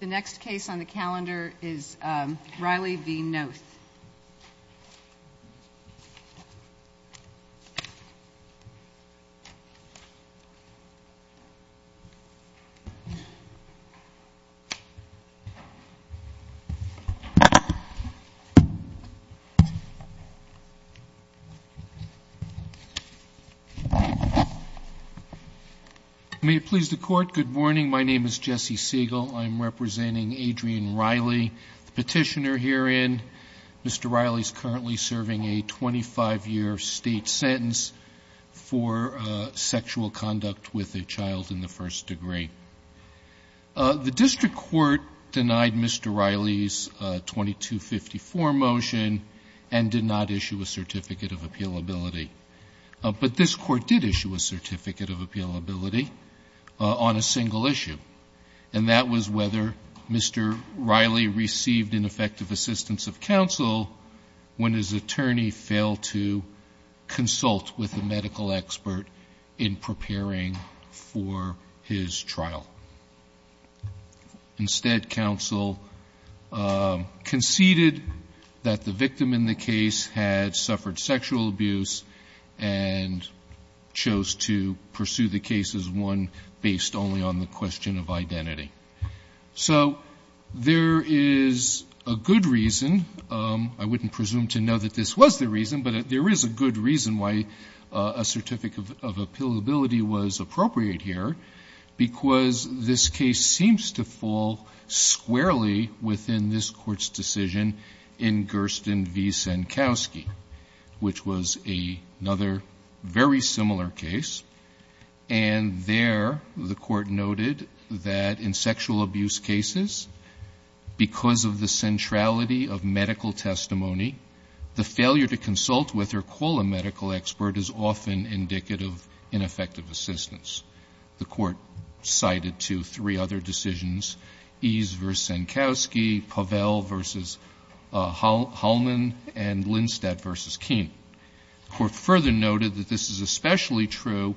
The next case on the calendar is Riley v. Noeth. May it please the Court, good morning. My name is Jesse Siegel. I'm representing Adrian Riley, the petitioner herein. Mr. Riley is currently serving a 25-year state sentence for sexual conduct with a child in the first degree. The district court denied Mr. Riley's 2254 motion and did not issue a certificate of appealability. But this court did issue a certificate of appealability on a single issue, and that was whether Mr. Riley received ineffective assistance of counsel when his attorney failed to consult with a medical expert in preparing for his trial. Instead, counsel conceded that the victim in the case had suffered sexual abuse and chose to pursue the case as one based only on the question of identity. So there is a good reason. I wouldn't presume to know that this was the reason, but there is a good reason why a certificate of appealability was appropriate here, because this case seems to fall squarely within this Court's decision in Gersten v. Senkowski, which was another very similar case. And there the Court noted that in sexual abuse cases, because of the centrality of medical testimony, the failure to consult with or call a medical expert is often indicative of ineffective assistance. The Court cited two, three other decisions, Ease v. Senkowski, Pavel v. Holman, and Lindstadt v. Keene. The Court further noted that this is especially true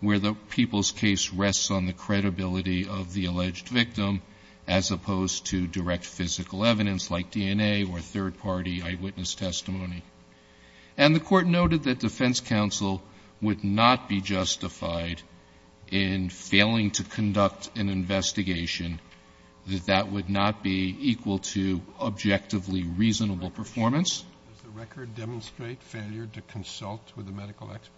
where the people's case rests on the credibility of the alleged victim as opposed to direct physical evidence like DNA or third-party eyewitness testimony. And the Court noted that defense counsel would not be justified in failing to conduct an investigation, that that would not be equal to objectively reasonable performance. Sotomayor, does the record demonstrate failure to consult with a medical expert?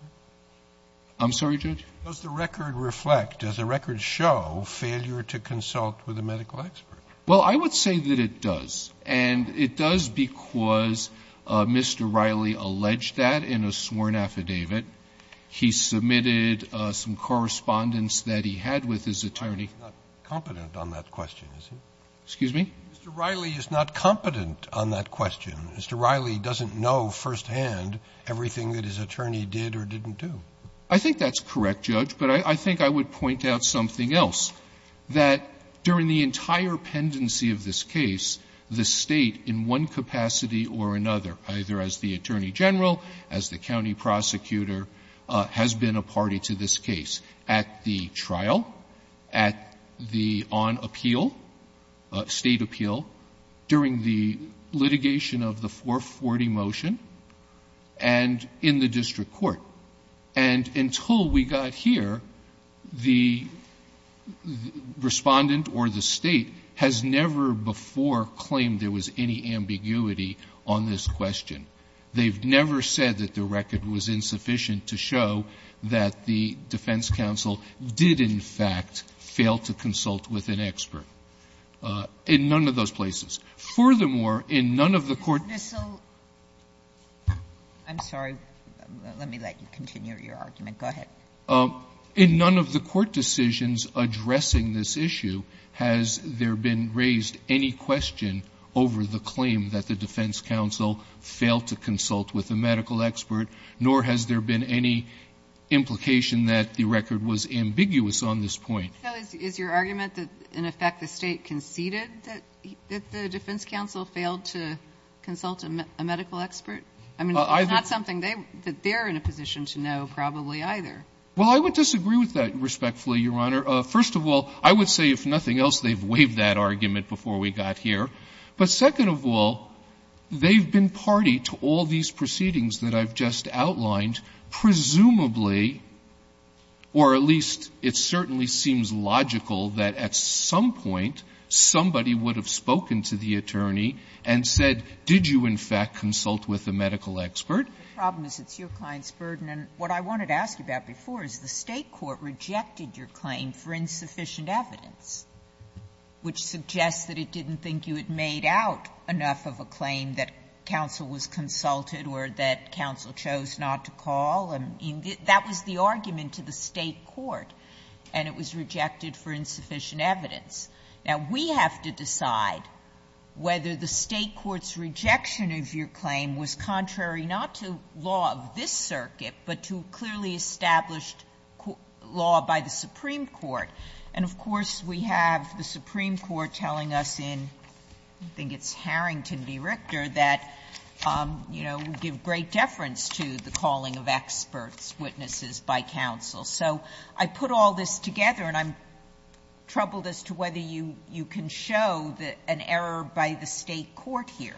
I'm sorry, Judge? Does the record reflect, does the record show failure to consult with a medical expert? Well, I would say that it does, and it does because Mr. Riley alleged that in a sworn affidavit. He submitted some correspondence that he had with his attorney. He's not competent on that question, is he? Excuse me? Mr. Riley is not competent on that question. Mr. Riley doesn't know firsthand everything that his attorney did or didn't do. I think that's correct, Judge. But I think I would point out something else, that during the entire pendency of this case, the State in one capacity or another, either as the attorney general, as the county prosecutor, has been a party to this case at the trial, at the on-appeal, State appeal, during the litigation of the 440 motion, and in the district court. And until we got here, the Respondent or the State has never before claimed there was any ambiguity on this question. They've never said that the record was insufficient to show that the defense counsel did, in fact, fail to consult with an expert in none of those places. Furthermore, in none of the court cases that we've seen in this case, there is no ambiguity that the defense counsel failed to consult with a medical expert. And I'm going to let you continue your argument. Go ahead. In none of the court decisions addressing this issue has there been raised any question over the claim that the defense counsel failed to consult with a medical expert, nor has there been any implication that the record was ambiguous on this point. So is your argument that, in effect, the State conceded that the defense counsel failed to consult a medical expert? I mean, it's not something that they're in a position to know, probably, either. Well, I would disagree with that, respectfully, Your Honor. First of all, I would say, if nothing else, they've waived that argument before we got here. But second of all, they've been party to all these proceedings that I've just outlined, presumably, or at least it certainly seems logical that at some point somebody would have spoken to the attorney and said, did you, in fact, consult with a medical expert? The problem is it's your client's burden. And what I wanted to ask you about before is the State court rejected your claim for insufficient evidence, which suggests that it didn't think you had made out enough of a claim that counsel was consulted or that counsel chose not to call. And that was the argument to the State court, and it was rejected for insufficient evidence. Now, we have to decide whether the State court's rejection of your claim was contrary not to law of this circuit, but to clearly established law by the Supreme Court. And, of course, we have the Supreme Court telling us in, I think it's Harrington v. Richter, that, you know, we give great deference to the calling of experts, witnesses by counsel. So I put all this together, and I'm troubled as to whether you can show that an error by the State court here.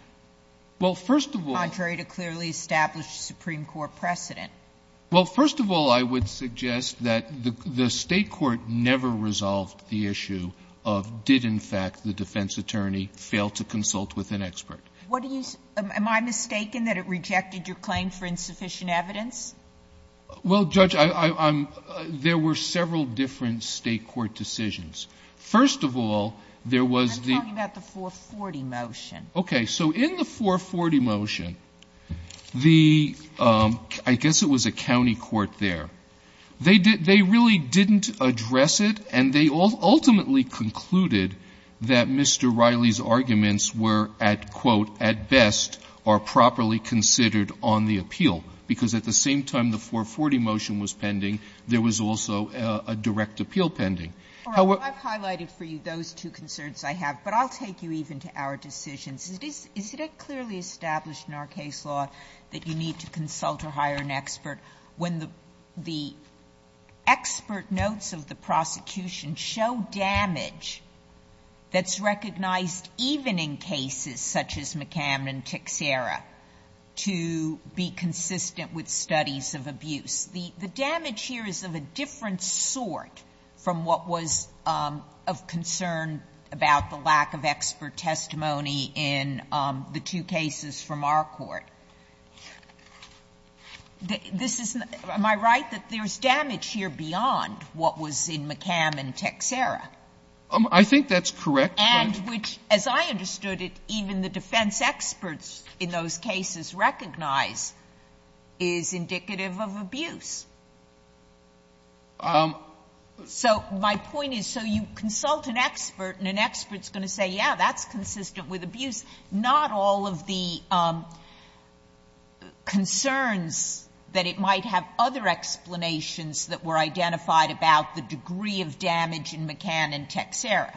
Well, first of all the State court never resolved the issue of did, in fact, the defense attorney fail to consult with an expert. Am I mistaken that it rejected your claim for insufficient evidence? Well, Judge, there were several different State court decisions. Okay. So in the 440 motion, the ‑‑ I guess it was a county court there. They really didn't address it, and they ultimately concluded that Mr. Riley's arguments were, at quote, at best, are properly considered on the appeal, because at the same time the 440 motion was pending, there was also a direct appeal pending. However ‑‑ Sotomayor, I've highlighted for you those two concerns I have, but I'll take you even to our decisions. Is it clearly established in our case law that you need to consult or hire an expert when the expert notes of the prosecution show damage that's recognized even in cases such as McCamden and Tixera to be consistent with studies of abuse? The damage here is of a different sort from what was of concern about the lack of expert testimony in the two cases from our court. This is ‑‑ am I right that there's damage here beyond what was in McCamden and Tixera? I think that's correct, but ‑‑ And which, as I understood it, even the defense experts in those cases recognize is indicative of abuse. So my point is, so you consult an expert and an expert's going to say, yeah, that's consistent with abuse, not all of the concerns that it might have other explanations that were identified about the degree of damage in McCamden and Tixera.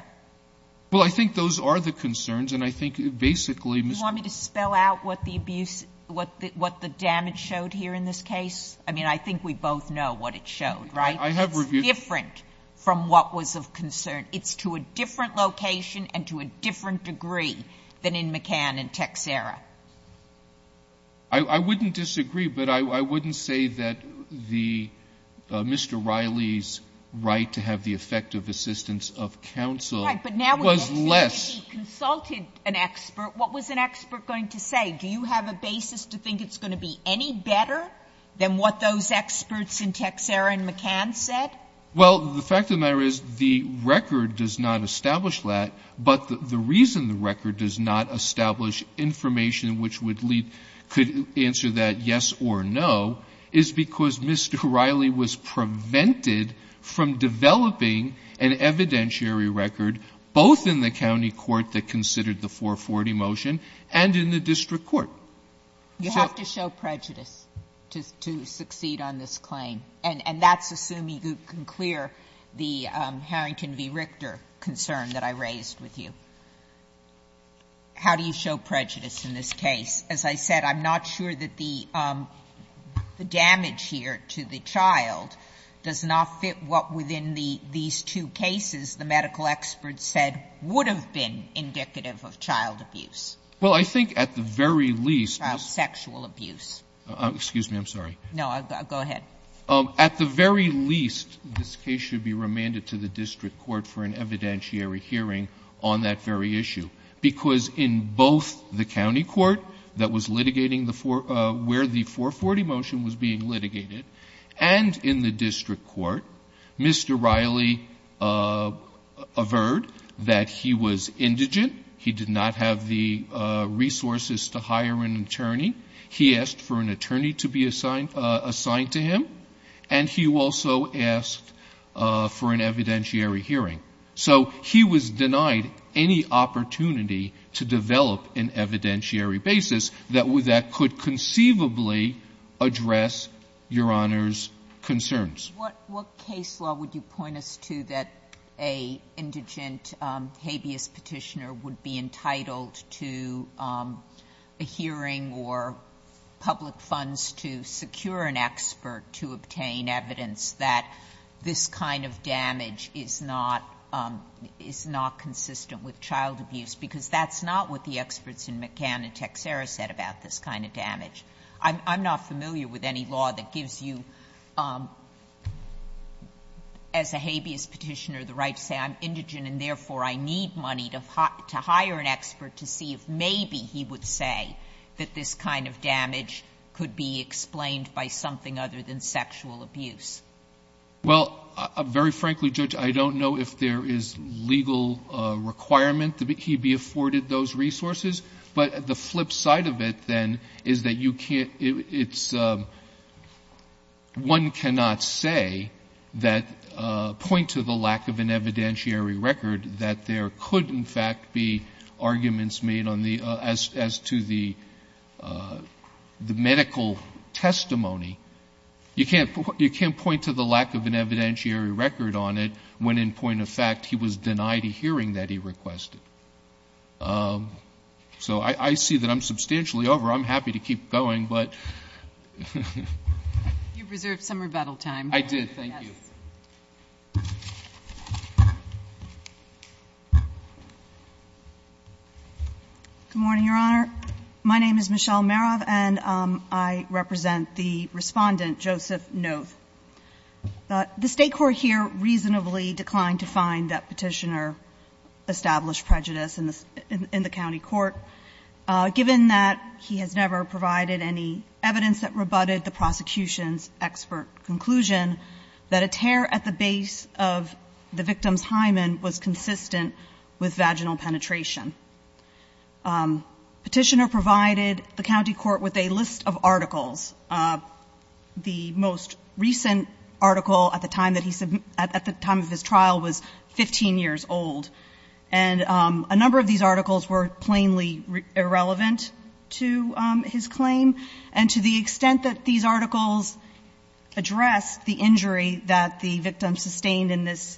Well, I think those are the concerns, and I think basically, Ms. ‑‑ Do you want me to spell out what the abuse, what the damage showed here in this case? I mean, I think we both know what it showed, right? I have reviewed ‑‑ It's different from what was of concern. It's to a different location and to a different degree than in McCamden and Tixera. I wouldn't disagree, but I wouldn't say that Mr. Riley's right to have the effective assistance of counsel was less ‑‑ Do you have a basis to think it's going to be any better than what those experts in Tixera and McCamden said? Well, the fact of the matter is the record does not establish that, but the reason the record does not establish information which would lead ‑‑ could answer that yes or no is because Mr. Riley was prevented from developing an evidentiary record both in the county court that considered the 440 motion and in the district court. You have to show prejudice to succeed on this claim, and that's assuming you can clear the Harrington v. Richter concern that I raised with you. How do you show prejudice in this case? As I said, I'm not sure that the damage here to the child does not fit what within these two cases the medical experts said would have been indicative of child abuse. Well, I think at the very least ‑‑ Child sexual abuse. Excuse me. I'm sorry. No, go ahead. At the very least, this case should be remanded to the district court for an evidentiary hearing on that very issue, because in both the county court that was litigating where the 440 motion was being litigated and in the district court, Mr. Riley averred that he was indigent. He did not have the resources to hire an attorney. He asked for an attorney to be assigned to him, and he also asked for an evidentiary hearing. So he was denied any opportunity to develop an evidentiary basis that could conceivably address Your Honor's concerns. What case law would you point us to that an indigent habeas petitioner would be entitled to a hearing or public funds to secure an expert to obtain evidence that this kind of damage is not ‑‑ is not consistent with child abuse, because that's not what the experts in McCann and Texera said about this kind of damage. I'm not familiar with any law that gives you, as a habeas petitioner, the right to say I'm indigent and, therefore, I need money to hire an expert to see if maybe he would say that this kind of damage could be explained by something other than sexual abuse. Well, very frankly, Judge, I don't know if there is legal requirement that he be afforded those resources. But the flip side of it, then, is that you can't ‑‑ it's ‑‑ one cannot say that ‑‑ point to the lack of an evidentiary record that there could, in fact, be arguments made on the ‑‑ as to the medical testimony. You can't point to the lack of an evidentiary record on it when, in point of fact, he was denied a hearing that he requested. So I see that I'm substantially over. I'm happy to keep going, but ‑‑ You reserved some rebuttal time. I did, thank you. Good morning, Your Honor. My name is Michelle Marov, and I represent the Respondent, Joseph Nove. The State court here reasonably declined to find that Petitioner established prejudice in the county court, given that he has never provided any evidence that rebutted the prosecution's expert conclusion that a tear at the base of the victim's hymen was consistent with vaginal penetration. Petitioner provided the county court with a list of articles. The most recent article at the time that he ‑‑ at the time of his trial was 15 years old, and a number of these articles were plainly irrelevant to his claim. And to the extent that these articles addressed the injury that the victim sustained in this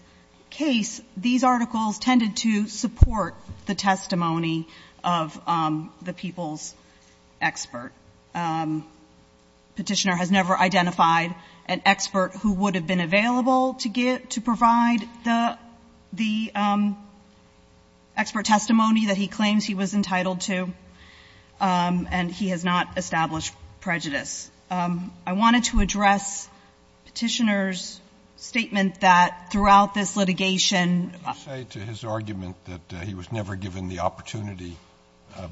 case, these articles tended to support the testimony of the people's expert. Petitioner has never identified an expert who would have been available to provide the expert testimony that he claims he was entitled to, and he has not established prejudice. I wanted to address Petitioner's statement that throughout this litigation ‑‑ Would you say to his argument that he was never given the opportunity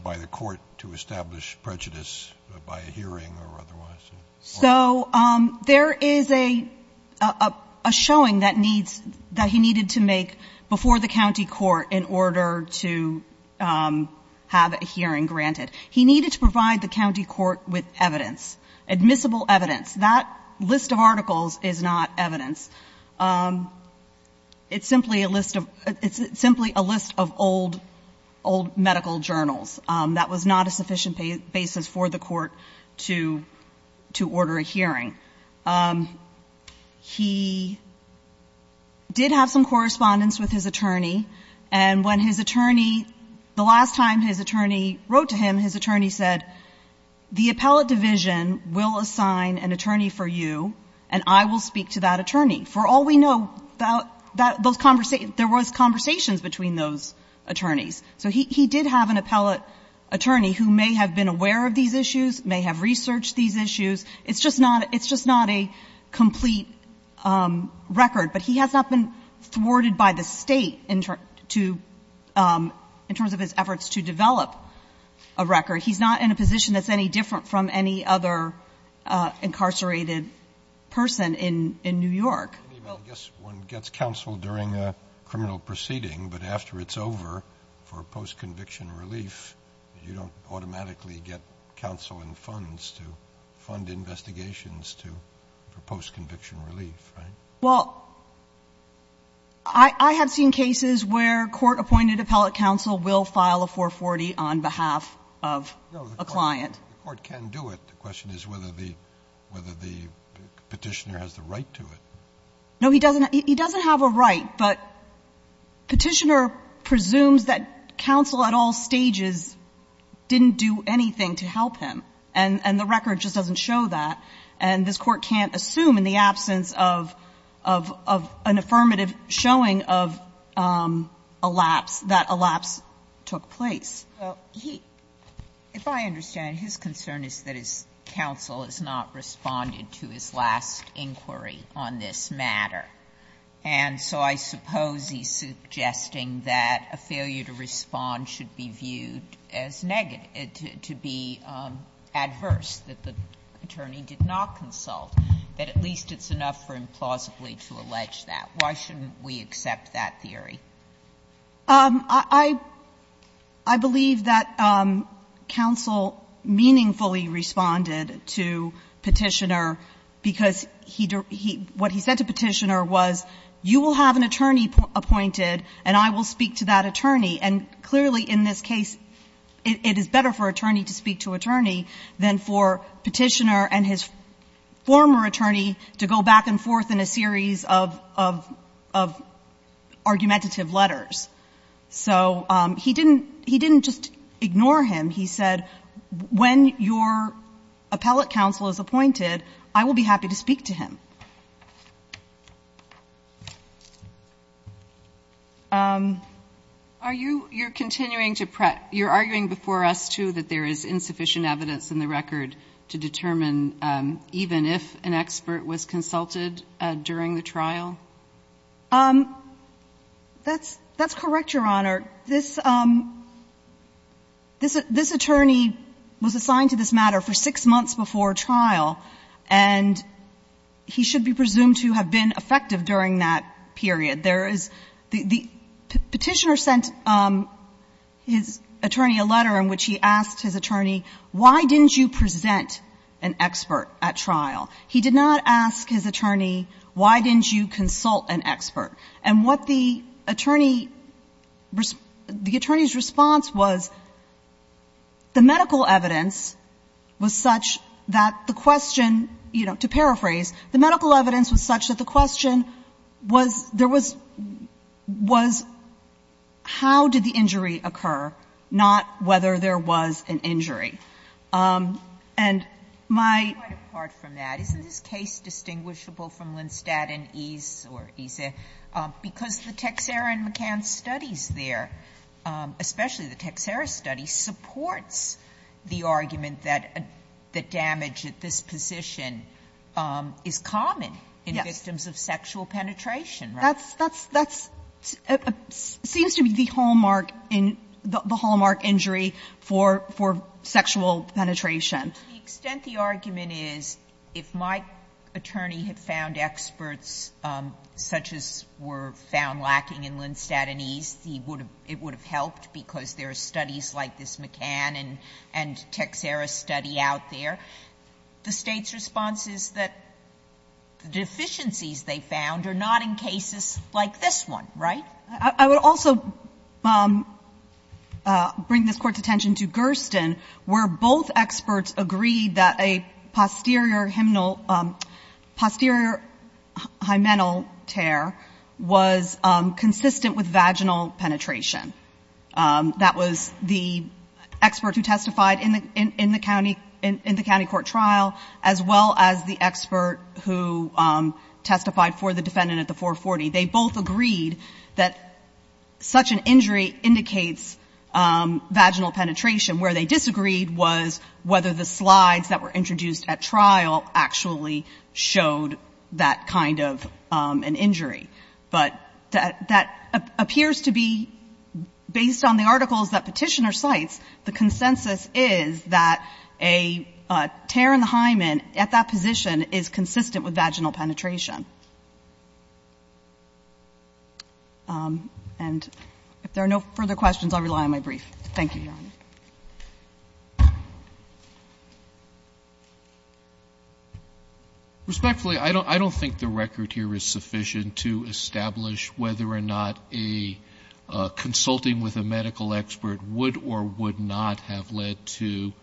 by the court to establish prejudice by a hearing or otherwise? So there is a showing that needs ‑‑ that he needed to make before the county court in order to have a hearing granted. He needed to provide the county court with evidence, admissible evidence. That list of articles is not evidence. It's simply a list of ‑‑ it's simply a list of old, old medical journals. That was not a sufficient basis for the court to ‑‑ to order a hearing. He did have some correspondence with his attorney, and when his attorney, the last time his attorney wrote to him, his attorney said, the appellate division will assign an attorney for you, and I will speak to that attorney. For all we know, there was conversations between those attorneys. So he did have an appellate attorney who may have been aware of these issues, may have researched these issues. It's just not ‑‑ it's just not a complete record, but he has not been thwarted by the State in terms to ‑‑ in terms of his efforts to develop a record. He's not in a position that's any different from any other incarcerated person in New York. I guess one gets counsel during a criminal proceeding, but after it's over, for post‑conviction relief, you don't automatically get counsel and funds to fund investigations to ‑‑ for post‑conviction relief, right? Well, I have seen cases where court‑appointed appellate counsel will file a 440 on behalf of a client. No, the court can do it. The question is whether the ‑‑ whether the Petitioner has the right to it. No, he doesn't. He doesn't have a right, but Petitioner presumes that counsel at all stages didn't do anything to help him, and the record just doesn't show that. And this Court can't assume, in the absence of ‑‑ of an affirmative showing of a lapse, that a lapse took place. Well, he ‑‑ if I understand, his concern is that his counsel has not responded to his last inquiry on this matter. And so I suppose he's suggesting that a failure to respond should be viewed as negative to be adverse, that the attorney did not consult, that at least it's enough for implausibly to allege that. Why shouldn't we accept that theory? I believe that counsel meaningfully responded to Petitioner because he ‑‑ what he said to Petitioner was, you will have an attorney appointed and I will speak to that attorney. And clearly in this case, it is better for attorney to speak to attorney than for Petitioner and his former attorney to go back and forth in a series of argumentative letters. So he didn't ‑‑ he didn't just ignore him. He said, when your appellate counsel is appointed, I will be happy to speak to him. Are you ‑‑ you're continuing to ‑‑ you're arguing before us, too, that there is insufficient evidence in the record to determine even if an expert was consulted during the trial? That's ‑‑ that's correct, Your Honor. This ‑‑ this attorney was assigned to this matter for six months before trial, and he should be presumed to have been effective during that period. There is ‑‑ Petitioner sent his attorney a letter in which he asked his attorney, why didn't you present an expert at trial? He did not ask his attorney, why didn't you consult an expert? And what the attorney ‑‑ the attorney's response was, the medical evidence was such that the question, you know, to paraphrase, the medical evidence was such that the question was, there was ‑‑ was how did the injury occur, not whether there was an injury. And my ‑‑ It's quite apart from that. Isn't this case distinguishable from Lindstadt and Ease or ESA? Because the Texera and McCann studies there, especially the Texera study, supports the argument that ‑‑ that damage at this position is common in victims of sexual penetration. Right? That's ‑‑ that's ‑‑ seems to be the hallmark in ‑‑ the hallmark injury for ‑‑ for sexual penetration. To the extent the argument is, if my attorney had found experts such as were found lacking in Lindstadt and Ease, it would have helped because there are studies like this McCann and Texera study out there. The State's response is that the deficiencies they found are not in cases like this one. Right? I would also bring this Court's attention to Gersten, where both experts agreed that a posterior hymenal ‑‑ posterior hymenal tear was consistent with vaginal penetration. That was the expert who testified in the ‑‑ in the county ‑‑ in the county court trial, as well as the expert who testified for the defendant at the 440. They both agreed that such an injury indicates vaginal penetration. Where they disagreed was whether the slides that were introduced at trial actually showed that kind of an injury. But that appears to be, based on the articles that Petitioner cites, the consensus is that a tear in the hymen at that position is consistent with vaginal penetration. And if there are no further questions, I'll rely on my brief. Thank you, Your Honor. Respectfully, I don't think the record here is sufficient to establish whether or not a consulting with a medical expert would or would not have led to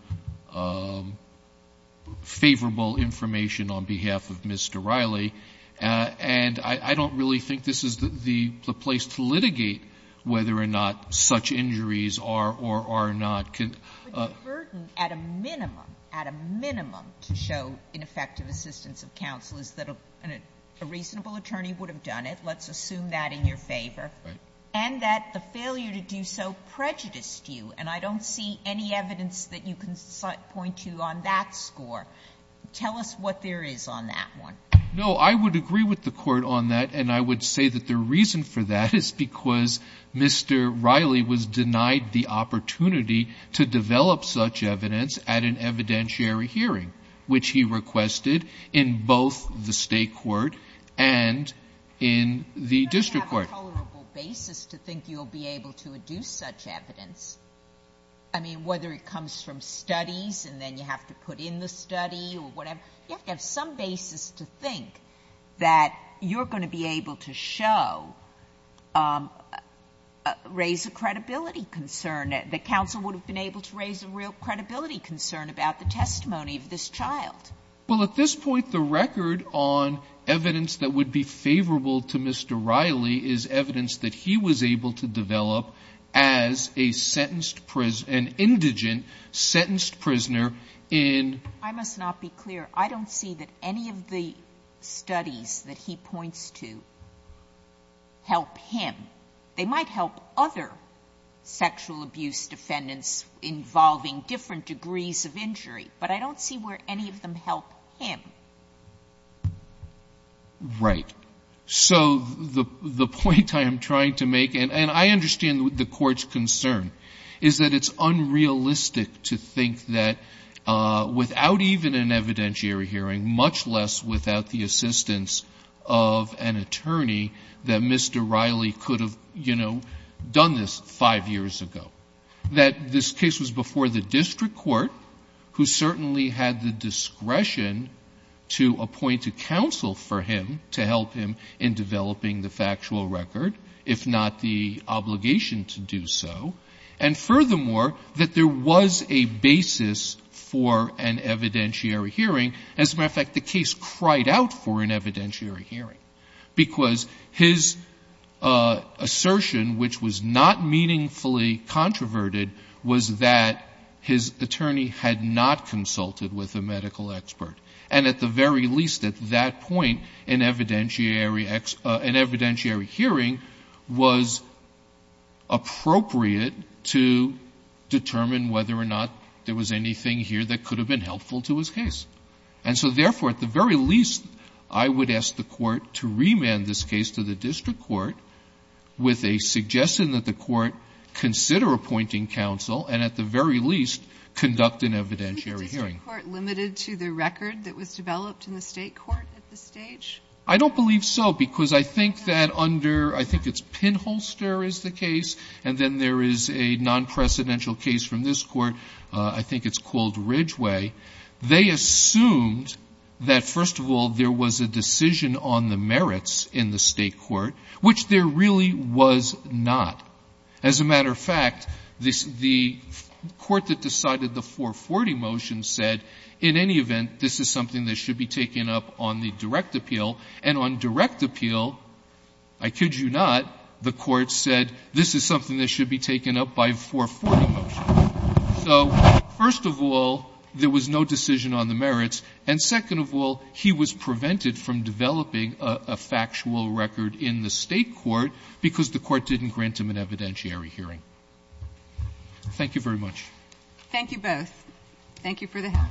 favorable information on behalf of Mr. Riley. And I don't really think this is the place to litigate whether or not such injuries are or are not. But the burden, at a minimum, at a minimum, to show ineffective assistance of counsel is that a reasonable attorney would have done it. Let's assume that in your favor. Right. And that the failure to do so prejudiced you. And I don't see any evidence that you can point to on that score. Tell us what there is on that one. No. I would agree with the Court on that, and I would say that the reason for that is because Mr. Riley was denied the opportunity to develop such evidence at an evidentiary hearing, which he requested in both the State court and in the district court. You don't have a tolerable basis to think you'll be able to deduce such evidence. I mean, whether it comes from studies and then you have to put in the study or whatever, you have to have some basis to think that you're going to be able to show, raise a credibility concern, that counsel would have been able to raise a real credibility concern about the testimony of this child. Well, at this point, the record on evidence that would be favorable to Mr. Riley is evidence that he was able to develop as an indigent sentenced prisoner in ---- I must not be clear. I don't see that any of the studies that he points to help him. They might help other sexual abuse defendants involving different degrees of injury, but I don't see where any of them help him. Right. So the point I am trying to make, and I understand the Court's concern, is that it's unrealistic to think that without even an evidentiary hearing, much less without the assistance of an attorney, that Mr. Riley could have, you know, done this five years ago. That this case was before the district court, who certainly had the discretion to appoint a counsel for him to help him in developing the factual record, if not the obligation to do so. And furthermore, that there was a basis for an evidentiary hearing. As a matter of fact, the case cried out for an evidentiary hearing, because his assertion, which was not meaningfully controverted, was that his attorney had not consulted with a medical expert. And at the very least, at that point, an evidentiary hearing was appropriate to determine whether or not there was anything here that could have been helpful to his case. And so therefore, at the very least, I would ask the Court to remand this case to the district court with a suggestion that the Court consider appointing counsel and at the very least conduct an evidentiary hearing. Underwood. Do you agree with the claim of the district court limited to the record that was developed in the State court at this stage? I don't believe so, because I think that under — I think it's Pinholster is the case, and then there is a non-precedential case from this court. I think it's called Ridgeway. They assumed that, first of all, there was a decision on the merits in the State court, which there really was not. As a matter of fact, the court that decided the 440 motion said, in any event, this is something that should be taken up on the direct appeal. And on direct appeal, I kid you not, the court said, this is something that should be taken up by a 440 motion. So, first of all, there was no decision on the merits. And second of all, he was prevented from developing a factual record in the evidentiary hearing. Thank you very much. Thank you both. Thank you for the help.